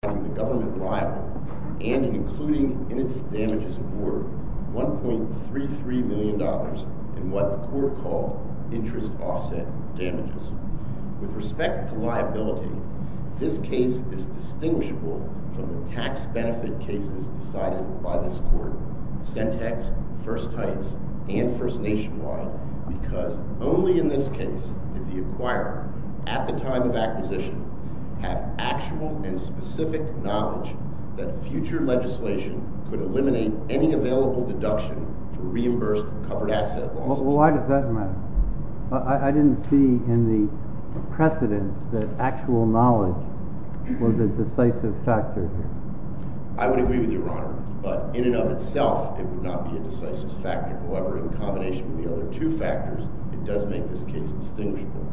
The government liable, and including in its damages award, $1.33 million in what the court called interest offset damages. With respect to liability, this case is distinguishable from the tax benefit cases decided by this court, Sentex, First Heights, and First Nationwide, because only in this case did the acquirer, at the time of acquisition, have actual and specific knowledge that future legislation could eliminate any available deduction for reimbursed covered asset losses. Why does that matter? I didn't see in the precedent that actual knowledge was a decisive factor here. I would agree with you, Your Honor, but in and of itself, it would not be a decisive factor. However, in combination with the other two factors, it does make this case distinguishable.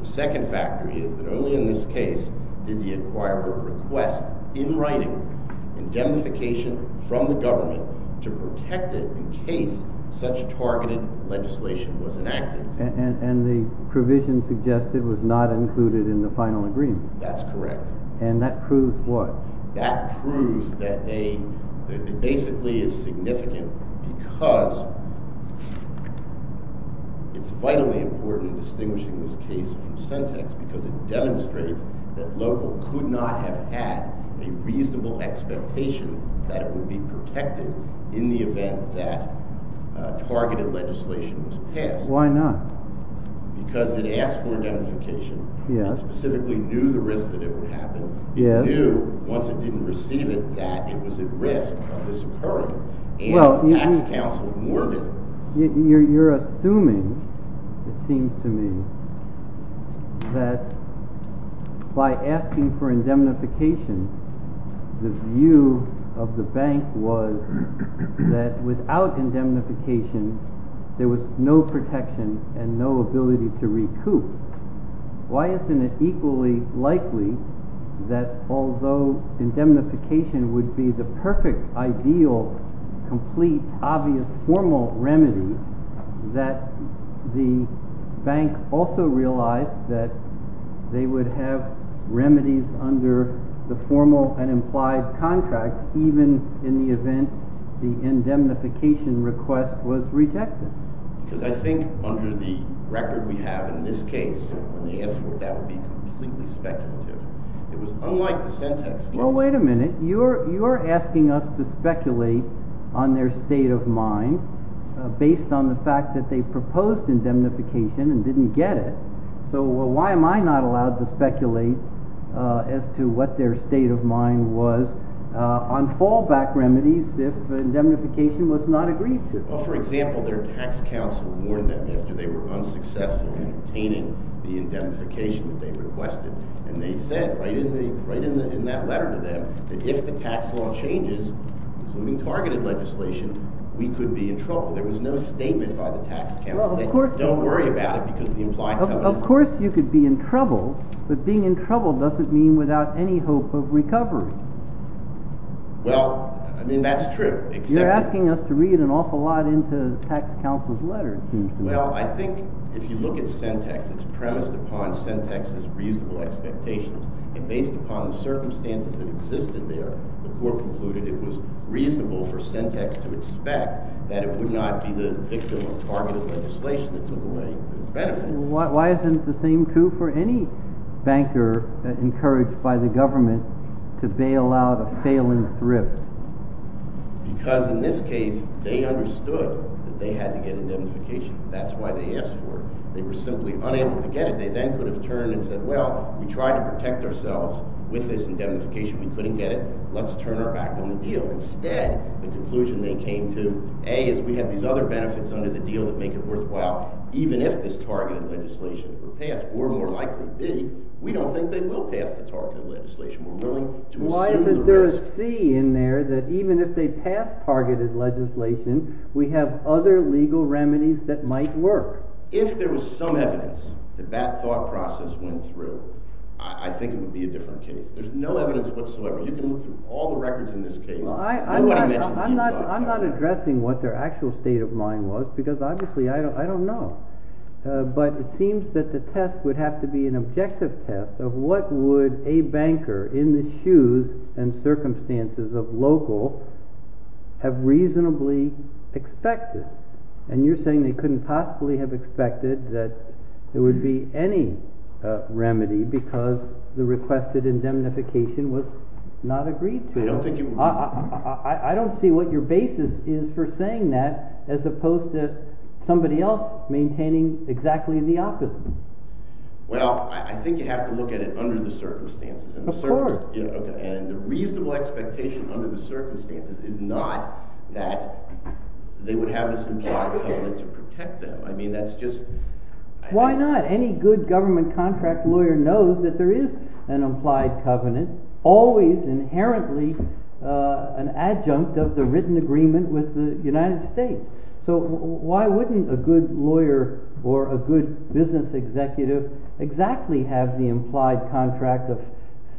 The second factor is that only in this case did the acquirer request, in writing, indemnification from the government to protect it in case such targeted legislation was enacted. And the provision suggested was not included in the final agreement? That's correct. And that proves what? That proves that it basically is significant because it's vitally important in distinguishing this case from Sentex, because it demonstrates that local could not have had a reasonable expectation that it would be protected in the event that targeted legislation was passed. Why not? Because it asked for indemnification. Yes. It specifically knew the risk that it would happen. Yes. It knew, once it didn't receive it, that it was at risk of this occurring. Well, you're assuming, it seems to me, that by asking for indemnification, the view of the bank was that without indemnification, there was no protection and no ability to that although indemnification would be the perfect, ideal, complete, obvious, formal remedy, that the bank also realized that they would have remedies under the formal and implied contract, even in the event the indemnification request was rejected. Because I think under the record we have in this case, when they asked for it, that would be completely speculative. It was unlike the Sentex case. Well, wait a minute. You're asking us to speculate on their state of mind based on the fact that they proposed indemnification and didn't get it. So why am I not allowed to speculate as to what their state of mind was on fallback remedies if indemnification was not agreed to? Well, for example, their tax counsel warned them after they were unsuccessful in obtaining the indemnification that they requested. And they said right in that letter to them that if the tax law changes, including targeted legislation, we could be in trouble. There was no statement by the tax counsel. They don't worry about it because of the implied covenant. Of course you could be in trouble, but being in trouble doesn't mean without any hope of recovery. Well, I mean, that's true. You're asking us to read an awful lot into the tax counsel's letter, it seems to me. Well, I think if you look at Sentex, it's premised upon Sentex's reasonable expectations. And based upon the circumstances that existed there, the court concluded it was reasonable for Sentex to expect that it would not be the victim of targeted legislation that took away the benefit. Why isn't the same true for any banker encouraged by the government to bail out a failing thrift? Because in this case, they understood that they had to get indemnification. That's why they asked for it. They were simply unable to get it. They then could have turned and said, well, we tried to protect ourselves with this indemnification. We couldn't get it. Let's turn our back on the deal. Instead, the conclusion they came to, A, is we have these other benefits under the deal that make it worthwhile, even if this targeted legislation were passed. Or more likely, B, we don't think they will pass the targeted legislation. Why isn't there a C in there that even if they pass targeted legislation, we have other legal remedies that might work? If there was some evidence that that thought process went through, I think it would be a different case. There's no evidence whatsoever. You can look through all the records in this case. Nobody mentions the EBITDA. I'm not addressing what their actual state of mind was, because obviously I don't know. But it seems that the test would have to be an objective test of what would a banker in the shoes and circumstances of local have reasonably expected. And you're saying they couldn't possibly have expected that there would be any remedy because the requested indemnification was not agreed to. I don't see what your basis is for saying that, as opposed to somebody else maintaining exactly the opposite. Well, I think you have to look at it under the circumstances. Of course. And the reasonable expectation under the circumstances is not that they would have this implied covenant to protect them. I mean, that's just... Why not? Any good government contract lawyer knows that there is an implied covenant, always inherently an adjunct of the written agreement with the United States. So why wouldn't a good lawyer or a good business executive exactly have the implied contract of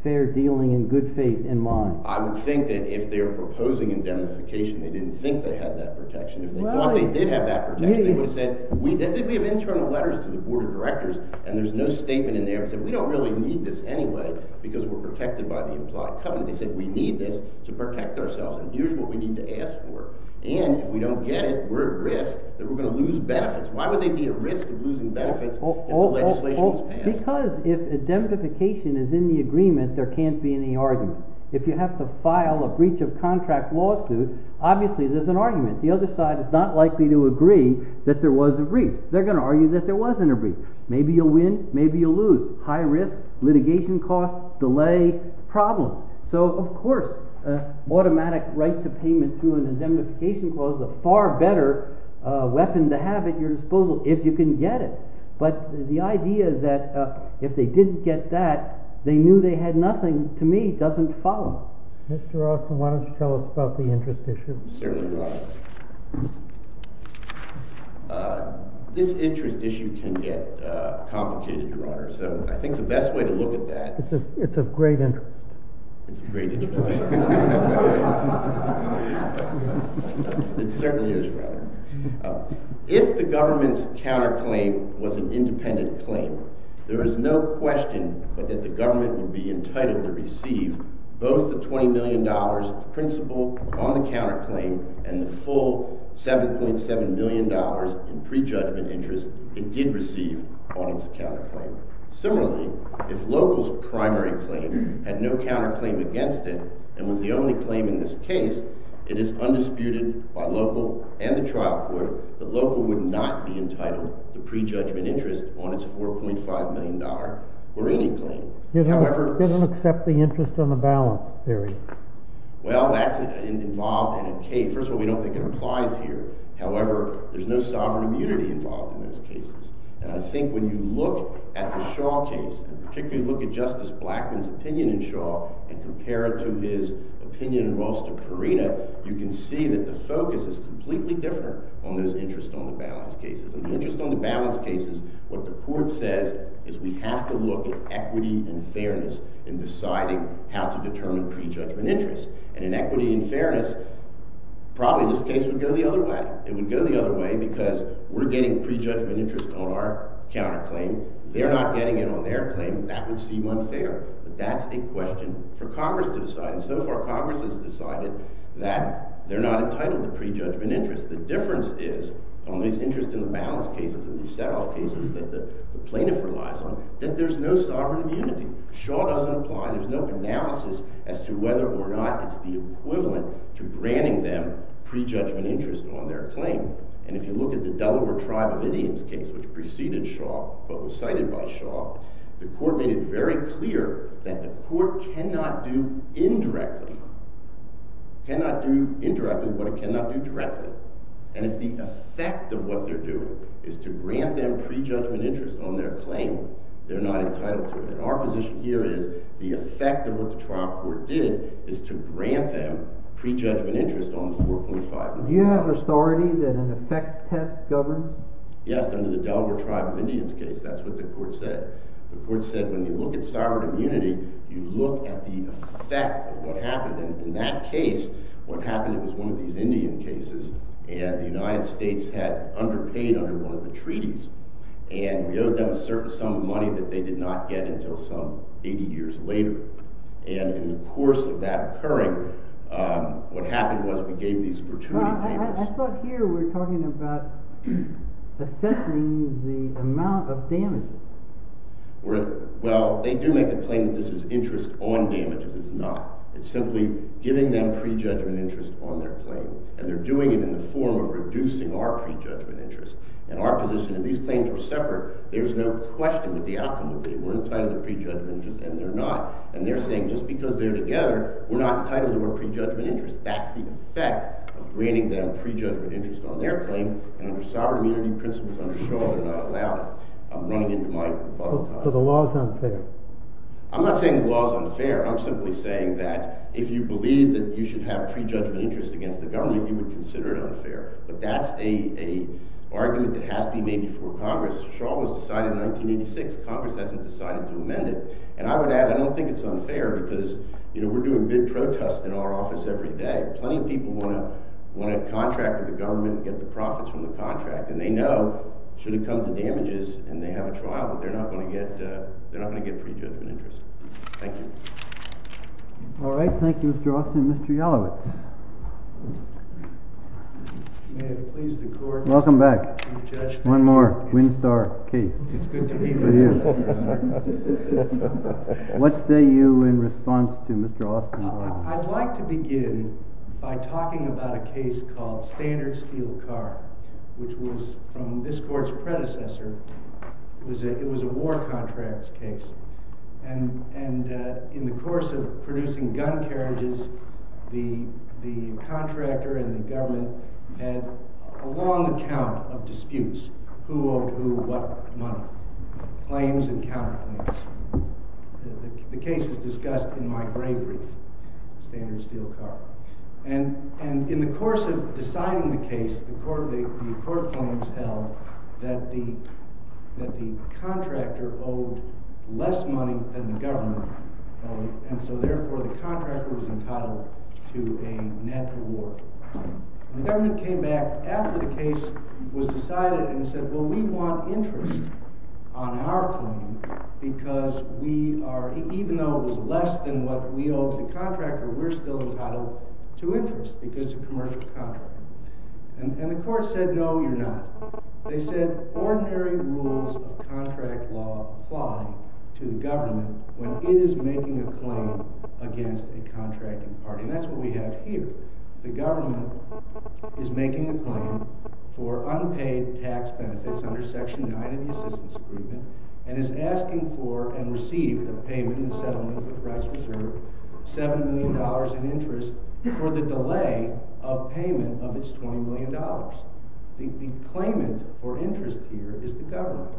fair dealing and good faith in mind? I would think that if they were proposing indemnification, they didn't think they had that protection. If they thought they did have that protection, they would have said... We have internal letters to the board of directors, and there's no statement in there that said we don't really need this anyway, because we're protected by the implied covenant. They said we need this to protect ourselves. And here's what we need to ask for. And if we don't get it, we're at risk that we're going to lose benefits. Why would they be at risk of losing benefits if the legislation was passed? Because if indemnification is in the agreement, there can't be any argument. If you have to file a breach of contract lawsuit, obviously there's an argument. The other side is not likely to agree that there was a breach. They're going to argue that there wasn't a breach. Maybe you'll win, maybe you'll lose. High risk, litigation costs, delay, problem. So, of course, automatic right to payment through an indemnification clause is a far better weapon to have at your disposal if you can get it. But the idea that if they didn't get that, they knew they had nothing, to me, doesn't follow. Mr. Austin, why don't you tell us about the interest issue? Certainly, Your Honor. This interest issue can get complicated, Your Honor. So I think the best way to look at that... It's of great interest. It's of great interest. It certainly is, Your Honor. If the government's counterclaim was an independent claim, there is no question that the government would be entitled to receive both the $20 million principal on the counterclaim and the full $7.7 million in prejudgment interest it did receive on its counterclaim. Similarly, if local's primary claim had no counterclaim against it and was the only claim in this case, it is undisputed by local and the trial court that local would not be entitled to prejudgment interest on its $4.5 million or any claim. You don't accept the interest on the balance theory. Well, that's involved in a case. First of all, we don't think it applies here. However, there's no sovereign immunity involved in those cases. And I think when you look at the Shaw case, and particularly look at Justice Blackmun's opinion in Shaw and compare it to his opinion in Walsh v. Perina, you can see that the focus is completely different on those interest on the balance cases. In the interest on the balance cases, what the court says is we have to look at equity and fairness in deciding how to determine prejudgment interest. And in equity and fairness, probably this case would go the other way. It would go the other way because we're getting prejudgment interest on our counterclaim. They're not getting it on their claim. That would seem unfair. But that's a question for Congress to decide. And so far, Congress has decided that they're not entitled to prejudgment interest. The difference is on these interest on the balance cases and these set-off cases that the plaintiff relies on, that there's no sovereign immunity. Shaw doesn't apply. There's no analysis as to whether or not it's the equivalent to granting them prejudgment interest on their claim. And if you look at the Delaware Tribe of Indians case, which preceded Shaw but was cited by Shaw, the court made it very clear that the court cannot do indirectly what it cannot do directly. And if the effect of what they're doing is to grant them prejudgment interest on their claim, they're not entitled to it. And our position here is the effect of what the trial court did is to grant them prejudgment interest on 4.5 million dollars. Do you have authority that an effect test governs? Yes, under the Delaware Tribe of Indians case. That's what the court said. The court said when you look at sovereign immunity, you look at the effect of what happened. And in that case, what happened was one of these Indian cases, and the United States had underpaid under one of the treaties. And we owed them a certain sum of money that they did not get until some 80 years later. And in the course of that occurring, what happened was we gave these gratuity payments. I thought here we're talking about assessing the amount of damages. Well, they do make a claim that this is interest on damages. It's not. It's simply giving them prejudgment interest on their claim. And they're doing it in the form of reducing our prejudgment interest. And our position, if these claims were separate, there's no question that the outcome would be. We're entitled to prejudgment interest, and they're not. And they're saying just because they're together, we're not entitled to our prejudgment interest. That's the effect of granting them prejudgment interest on their claim. And under sovereign immunity principles under Shaw, they're not allowed it. I'm running into my bottle top. So the law is unfair? I'm not saying the law is unfair. I'm simply saying that if you believe that you should have prejudgment interest against the government, you would consider it unfair. But that's an argument that has to be made before Congress. Shaw was decided in 1986. Congress hasn't decided to amend it. And I would add, I don't think it's unfair because, you know, we're doing big protests in our office every day. Plenty of people want to contract with the government and get the profits from the contract. And they know should it come to damages and they have a trial that they're not going to get prejudgment interest. Thank you. All right. Thank you, Mr. Austin. Mr. Yalowitz. May it please the court. Welcome back. One more Winstar case. It's good to be here. What say you in response to Mr. Austin? I'd like to begin by talking about a case called Standard Steel Car, which was from this court's predecessor. It was a war contracts case. And in the course of producing gun carriages, the contractor and the government had a long account of disputes. Who owed who what money? Claims and counterclaims. The case is discussed in my gray brief, Standard Steel Car. And in the course of deciding the case, the court claims held that the contractor owed less money than the government. And so therefore, the contractor was entitled to a net reward. The government came back after the case was decided and said, well, we want interest on our claim because we are, even though it was less than what we owed the contractor, we're still entitled to interest because of commercial contract. And the court said, no, you're not. They said ordinary rules of contract law apply to the government when it is making a claim against a contracting party. And that's what we have here. The government is making a claim for unpaid tax benefits under Section 9 of the Assistance Agreement and is asking for and received a payment in settlement with rights reserved, $7 million in interest, for the delay of payment of its $20 million. The claimant for interest here is the government.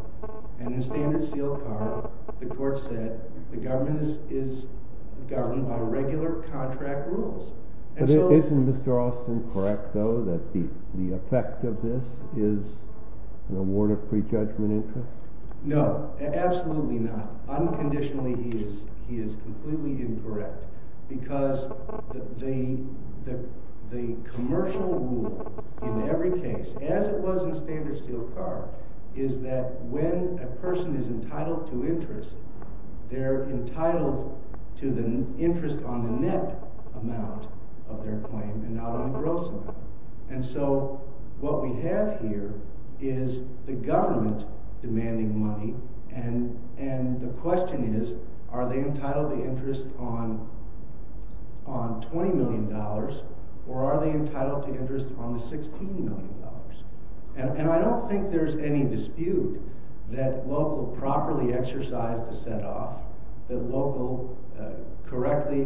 And in Standard Steel Car, the court said the government is governed by regular contract rules. Isn't Mr. Austin correct, though, that the effect of this is an award of prejudgment interest? No, absolutely not. Unconditionally, he is completely incorrect because the commercial rule in every case, as it was in Standard Steel Car, is that when a person is entitled to interest, they're entitled to the interest on the net amount of their claim and not on the gross amount. And so what we have here is the government demanding money. And the question is, are they entitled to interest on $20 million or are they entitled to interest on the $16 million? And I don't think there's any dispute that local properly exercised a set-off, that local correctly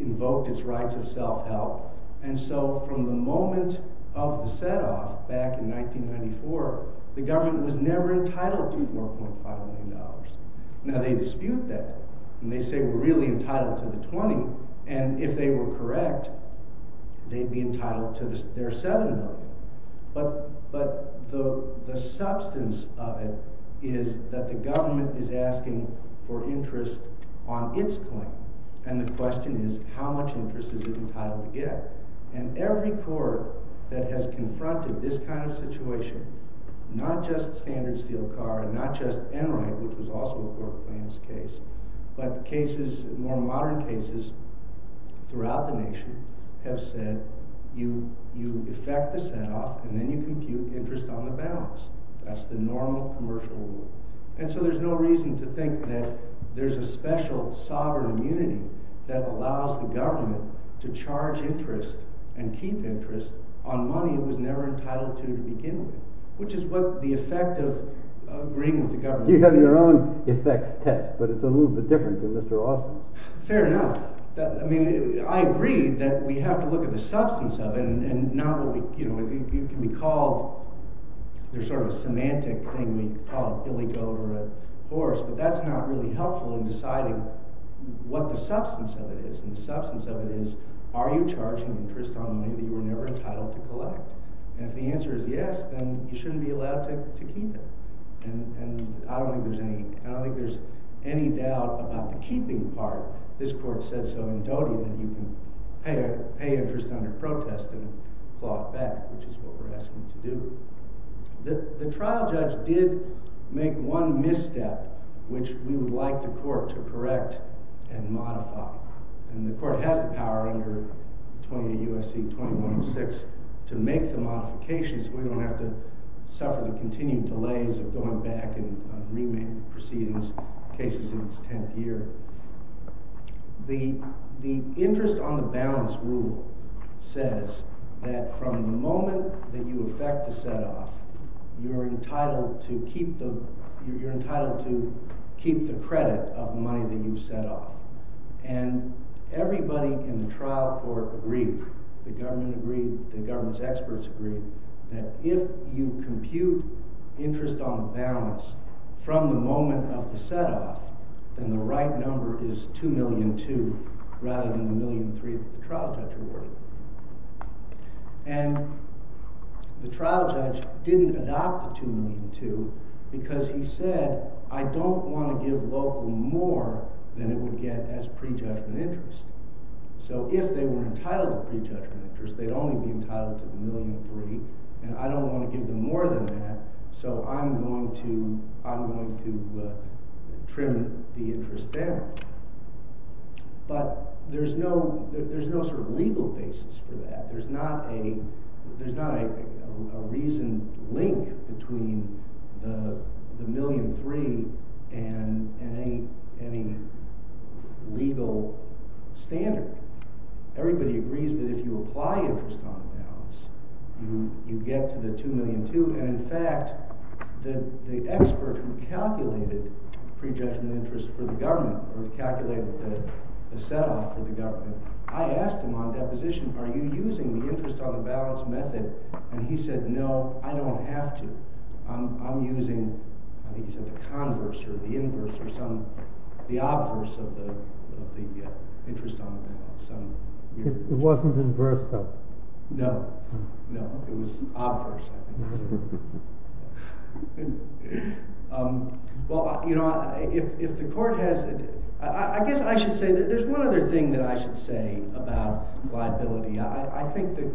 invoked its rights of self-help. And so from the moment of the set-off back in 1994, the government was never entitled to $4.5 million. Now they dispute that, and they say we're really entitled to the $20 million. And if they were correct, they'd be entitled to their $7 million. But the substance of it is that the government is asking for interest on its claim. And the question is, how much interest is it entitled to get? And every court that has confronted this kind of situation, not just Standard Steel Car and not just Enright, which was also a court of claims case, but more modern cases throughout the nation, have said you effect the set-off and then you compute interest on the balance. That's the normal commercial rule. And so there's no reason to think that there's a special sovereign immunity that allows the government to charge interest and keep interest on money it was never entitled to begin with, which is what the effect of agreeing with the government is. You have your own effects test, but it's a little bit different than Mr. Austin. Fair enough. I agree that we have to look at the substance of it. And it can be called – there's sort of a semantic thing. We call it Billy Goat or a horse. But that's not really helpful in deciding what the substance of it is. And the substance of it is, are you charging interest on money that you were never entitled to collect? And if the answer is yes, then you shouldn't be allowed to keep it. And I don't think there's any doubt about the keeping part. This court said so in Doty that you can pay interest under protest and claw it back, which is what we're asking to do. The trial judge did make one misstep, which we would like the court to correct and modify. And the court has the power under 20 U.S.C. 2106 to make the modifications. We don't have to suffer the continued delays of going back and remaking proceedings, cases in its tenth year. The interest on the balance rule says that from the moment that you effect the setoff, you're entitled to keep the credit of the money that you set off. And everybody in the trial court agreed. The government agreed. The government's experts agreed that if you compute interest on the balance from the moment of the setoff, then the right number is 2,000,002 rather than the 1,003 that the trial judge awarded. And the trial judge didn't adopt the 2,000,002 because he said, I don't want to give local more than it would get as prejudgment interest. So if they were entitled to prejudgment interest, they'd only be entitled to the 1,003. And I don't want to give them more than that, so I'm going to trim the interest down. But there's no sort of legal basis for that. There's not a reasoned link between the 1,003 and any legal standard. Everybody agrees that if you apply interest on the balance, you get to the 2,000,002. And in fact, the expert who calculated prejudgment interest for the government or calculated the setoff for the government, I asked him on deposition, are you using the interest on the balance method? And he said, no, I don't have to. I'm using, I think he said the converse or the inverse or some, the obverse of the interest on the balance. It wasn't inverse, though. No, no, it was obverse. Well, you know, if the court has, I guess I should say that there's one other thing that I should say about liability. I think the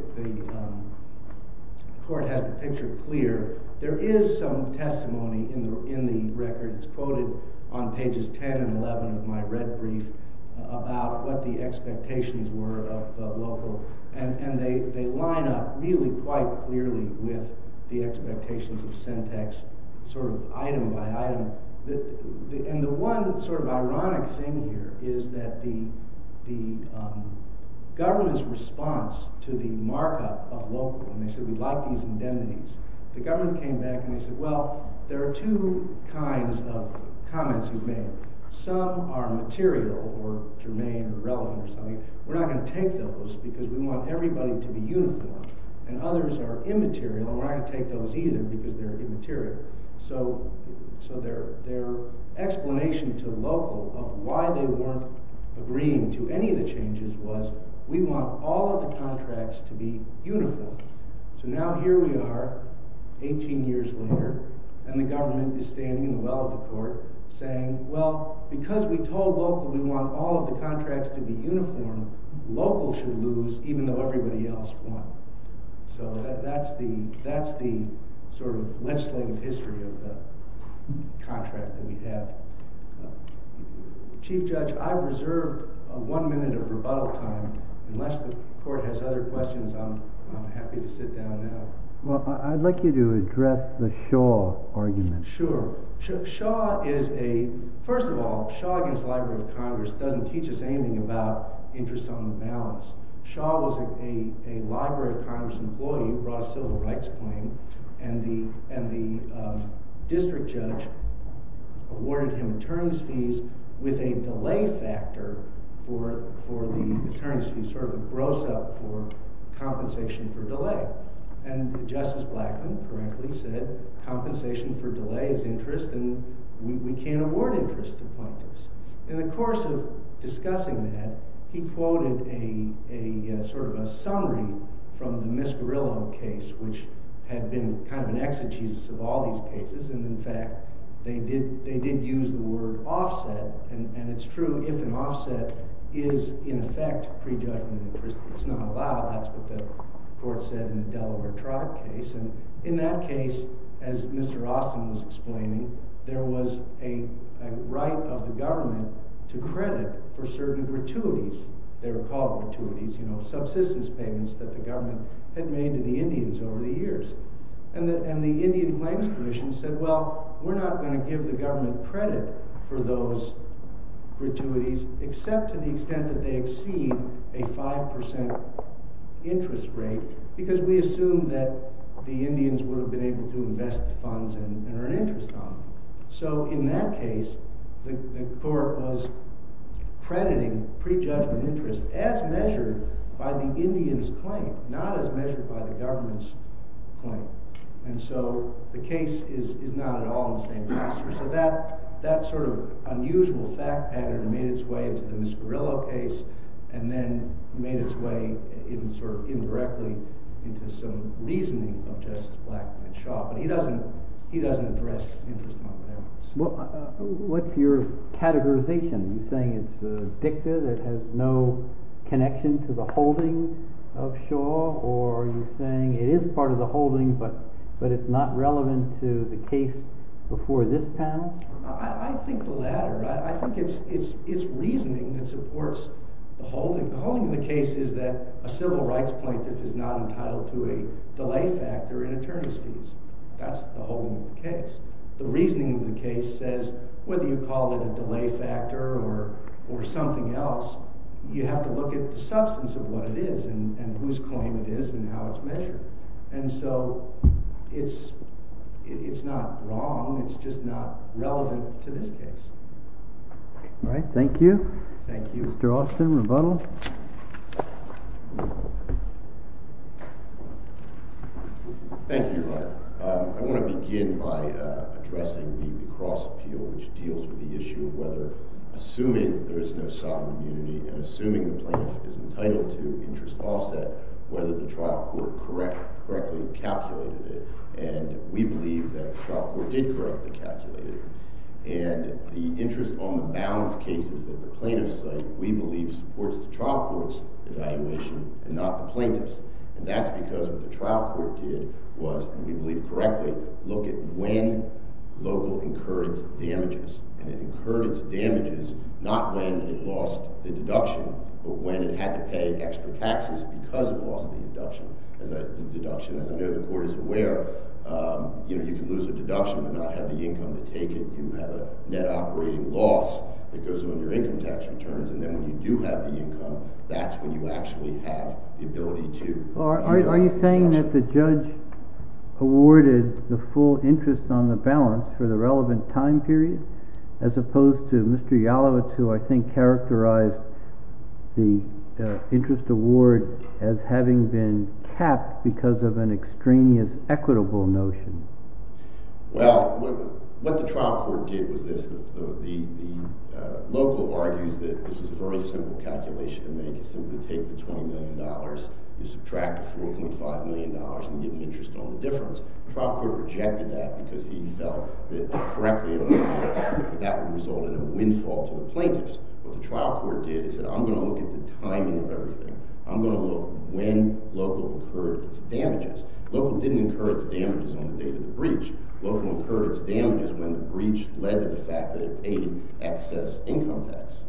court has the picture clear. There is some testimony in the record. It's quoted on pages 10 and 11 of my red brief about what the expectations were of the local. And they line up really quite clearly with the expectations of syntax, sort of item by item. And the one sort of ironic thing here is that the government's response to the markup of local, and they said we'd like these indemnities. The government came back and they said, well, there are two kinds of comments you've made. Some are material or germane or relevant or something. We're not going to take those because we want everybody to be uniform. And others are immaterial, and we're not going to take those either because they're immaterial. So their explanation to local of why they weren't agreeing to any of the changes was we want all of the contracts to be uniform. So now here we are 18 years later, and the government is standing in the well of the court saying, well, because we told local we want all of the contracts to be uniform, local should lose even though everybody else won. So that's the sort of legislative history of the contract that we have. Chief Judge, I reserve one minute of rebuttal time. Unless the court has other questions, I'm happy to sit down now. Well, I'd like you to address the Shaw argument. Sure. Shaw is a – first of all, Shaw against the Library of Congress doesn't teach us anything about interest on the balance. Shaw was a Library of Congress employee who brought a civil rights claim, and the district judge awarded him attorneys' fees with a delay factor for the attorneys' fees, sort of a gross-up for compensation for delay. And Justice Blackmun correctly said compensation for delay is interest, and we can't award interest to plaintiffs. In the course of discussing that, he quoted a sort of a summary from the Miss Guerrillo case, which had been kind of an exegesis of all these cases, and in fact they did use the word offset. And it's true, if an offset is in effect prejudgment interest, it's not allowed. That's what the court said in the Delaware Trot case. And in that case, as Mr. Austin was explaining, there was a right of the government to credit for certain gratuities. They were called gratuities, you know, subsistence payments that the government had made to the Indians over the years. And the Indian Claims Commission said, well, we're not going to give the government credit for those gratuities except to the extent that they exceed a 5% interest rate, because we assume that the Indians would have been able to invest the funds and earn interest on them. So in that case, the court was crediting prejudgment interest as measured by the Indian's claim, not as measured by the government's claim. And so the case is not at all in the same pasture. So that sort of unusual fact pattern made its way into the Miss Guerrillo case, and then made its way sort of indirectly into some reasoning of Justice Blackmun and Shaw. But he doesn't address interest among the Indians. What's your categorization? Are you saying it's a dicta that has no connection to the holdings of Shaw, or are you saying it is part of the holdings, but it's not relevant to the case before this panel? I think the latter. I think it's reasoning that supports the holding. The holding of the case is that a civil rights plaintiff is not entitled to a delay factor in attorneys' fees. That's the holding of the case. The reasoning of the case says, whether you call it a delay factor or something else, you have to look at the substance of what it is and whose claim it is and how it's measured. And so it's not wrong. It's just not relevant to this case. All right. Thank you. Thank you, Mr. Austin. Rebuttal. Thank you. I want to begin by addressing the recross appeal, which deals with the issue of whether, assuming there is no sovereign immunity and assuming the plaintiff is entitled to interest offset, whether the trial court correctly calculated it. And we believe that the trial court did correctly calculate it. And the interest on the balance case is that the plaintiff's site, we believe, supports the trial court's evaluation and not the plaintiff's. And that's because what the trial court did was, and we believe correctly, look at when local incurred damages. And it incurred its damages not when it lost the deduction but when it had to pay extra taxes because it lost the deduction. As I know the court is aware, you can lose a deduction but not have the income to take it. You have a net operating loss that goes on your income tax returns. And then when you do have the income, that's when you actually have the ability to deduct. Are you saying that the judge awarded the full interest on the balance for the relevant time period as opposed to Mr. Yalowitz, who I think characterized the interest award as having been capped because of an extraneous equitable notion? Well, what the trial court did was this. The local argues that this is a very simple calculation to make. You simply take the $20 million, you subtract the $4.5 million, and you get an interest on the difference. The trial court rejected that because he felt that correctly that would result in a windfall to the plaintiffs. What the trial court did is that I'm going to look at the timing of everything. Local didn't incur its damages on the date of the breach. Local incurred its damages when the breach led to the fact that it paid excess income tax.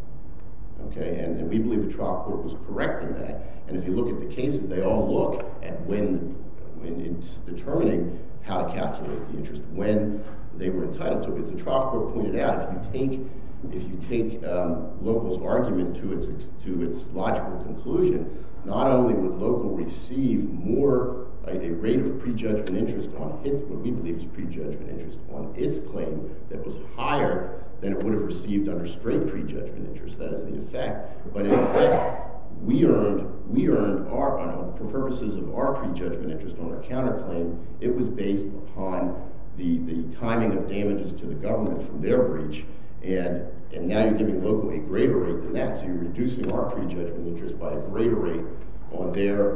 And we believe the trial court was correct in that. And if you look at the cases, they all look at when it's determining how to calculate the interest when they were entitled to it. As the trial court pointed out, if you take local's argument to its logical conclusion, not only would local receive a rate of prejudgment interest on what we believe is prejudgment interest on its claim that was higher than it would have received under straight prejudgment interest. That is the effect. But in effect, we earned, for purposes of our prejudgment interest on our counterclaim, it was based upon the timing of damages to the government from their breach. And now you're giving local a greater rate than that. So you're reducing our prejudgment interest by a greater rate on their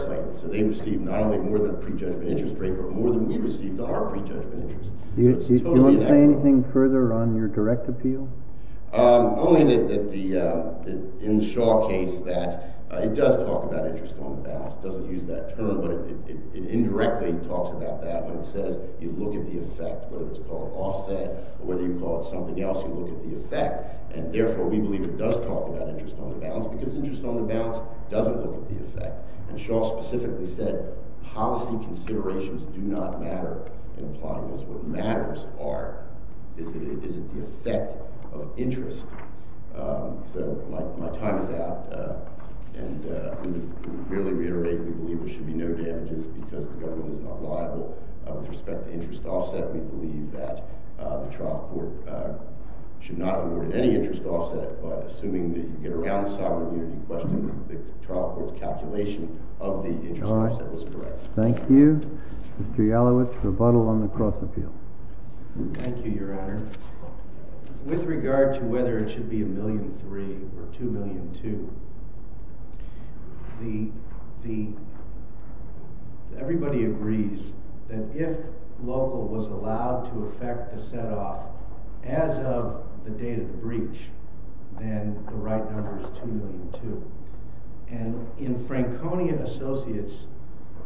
claim. So they received not only more than a prejudgment interest rate, but more than we received on our prejudgment interest. Do you want to say anything further on your direct appeal? Only that in the Shaw case that it does talk about interest on the balance. It doesn't use that term, but it indirectly talks about that when it says you look at the effect, whether it's called offset or whether you call it something else, you look at the effect. And therefore, we believe it does talk about interest on the balance because interest on the balance doesn't look at the effect. And Shaw specifically said policy considerations do not matter. What matters are, is it the effect of interest? So my time is out. And to really reiterate, we believe there should be no damages because the government is not liable. With respect to interest offset, we believe that the trial court should not award any interest offset. But assuming that you get around the sovereign question, the trial court's calculation of the interest offset was correct. Thank you. Mr. Yalowitz, rebuttal on the cross-appeal. Thank you, Your Honor. With regard to whether it should be $1.3 million or $2.2 million, everybody agrees that if local was allowed to affect the set-off as of the date of the breach, and in Franconia Associates,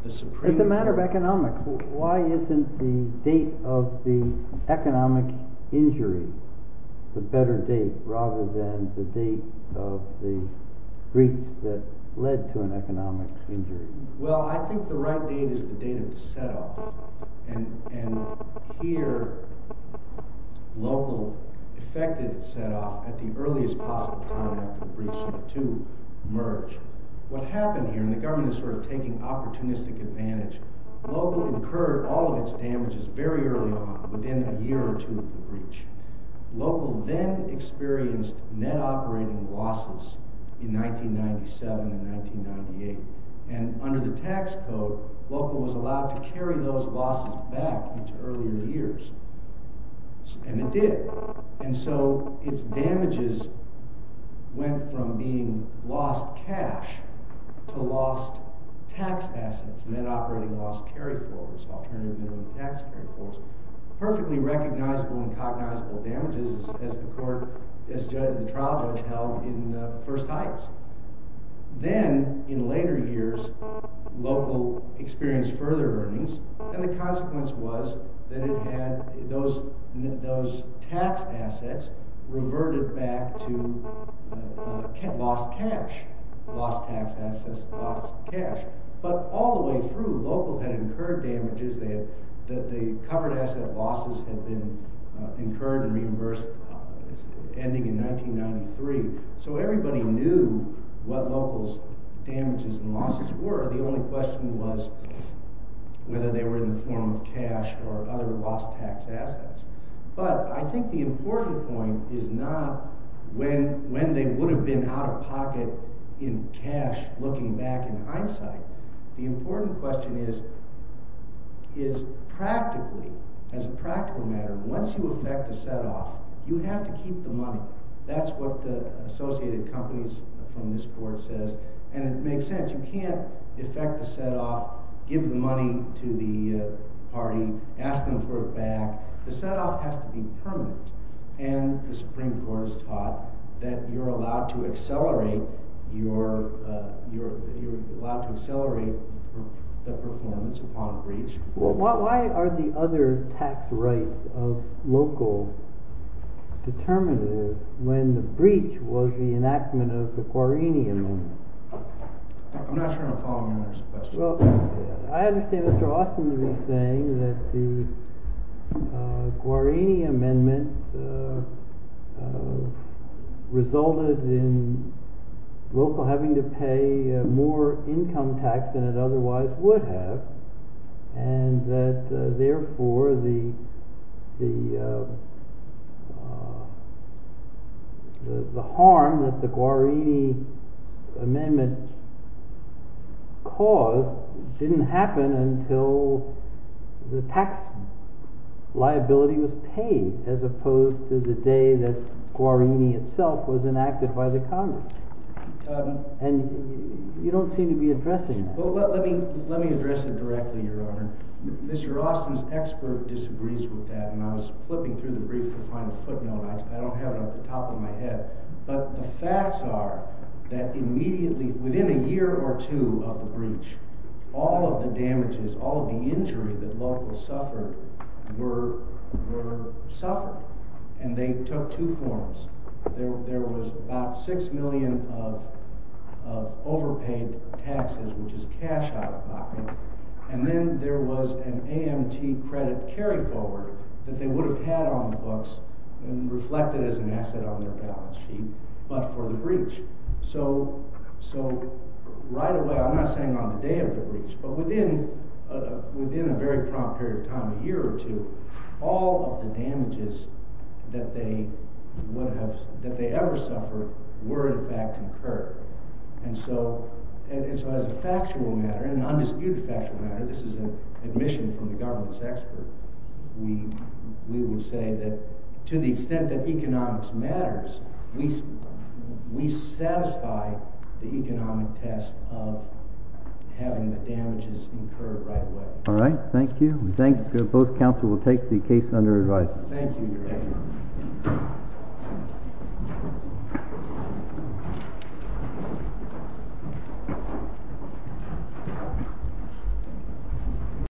the Supreme Court— It's a matter of economics. Why isn't the date of the economic injury the better date rather than the date of the breach that led to an economic injury? Well, I think the right date is the date of the set-off. And here, local affected the set-off at the earliest possible time after the breach to merge. What happened here—and the government is sort of taking opportunistic advantage— local incurred all of its damages very early on, within a year or two of the breach. Local then experienced net operating losses in 1997 and 1998. And under the tax code, local was allowed to carry those losses back into earlier years. And it did. And so its damages went from being lost cash to lost tax assets, net operating loss, carry forwards, alternative minimum tax carry forwards. Perfectly recognizable and cognizable damages as the trial judge held in First Heights. Then, in later years, local experienced further earnings, and the consequence was that those tax assets reverted back to lost cash. Lost tax assets, lost cash. But all the way through, local had incurred damages. The covered asset losses had been incurred and reimbursed, ending in 1993. So everybody knew what local's damages and losses were. The only question was whether they were in the form of cash or other lost tax assets. But I think the important point is not when they would have been out of pocket in cash, looking back in hindsight. The important question is, practically, as a practical matter, once you affect a set-off, you have to keep the money. That's what the Associated Companies from this court says. And it makes sense. You can't affect the set-off, give the money to the party, ask them for it back. The set-off has to be permanent. And the Supreme Court has taught that you're allowed to accelerate the performance upon a breach. Well, why are the other tax rights of local determinatives when the breach was the enactment of the Guarini Amendment? I'm not sure I'm following on this question. Well, I understand Mr. Austin is saying that the Guarini Amendment resulted in local having to pay more income tax than it otherwise would have. And that, therefore, the harm that the Guarini Amendment caused didn't happen until the tax liability was paid, as opposed to the day that Guarini itself was enacted by the Congress. And you don't seem to be addressing that. Well, let me address it directly, Your Honor. Mr. Austin's expert disagrees with that, and I was flipping through the brief to find a footnote. I don't have it at the top of my head. But the facts are that immediately, within a year or two of the breach, all of the damages, all of the injury that locals suffered were suffered. And they took two forms. There was about $6 million of overpaid taxes, which is cash out of pocket. And then there was an AMT credit carry-forward that they would have had on the books and reflected as an asset on their balance sheet, but for the breach. So right away, I'm not saying on the day of the breach, but within a very prompt period of time, a year or two, all of the damages that they ever suffered were, in fact, incurred. And so as a factual matter, an undisputed factual matter, this is an admission from the government's expert, we would say that to the extent that economics matters, we satisfy the economic test of having the damages incurred right away. All right. Thank you. We thank you. Both counsel will take the case under advice.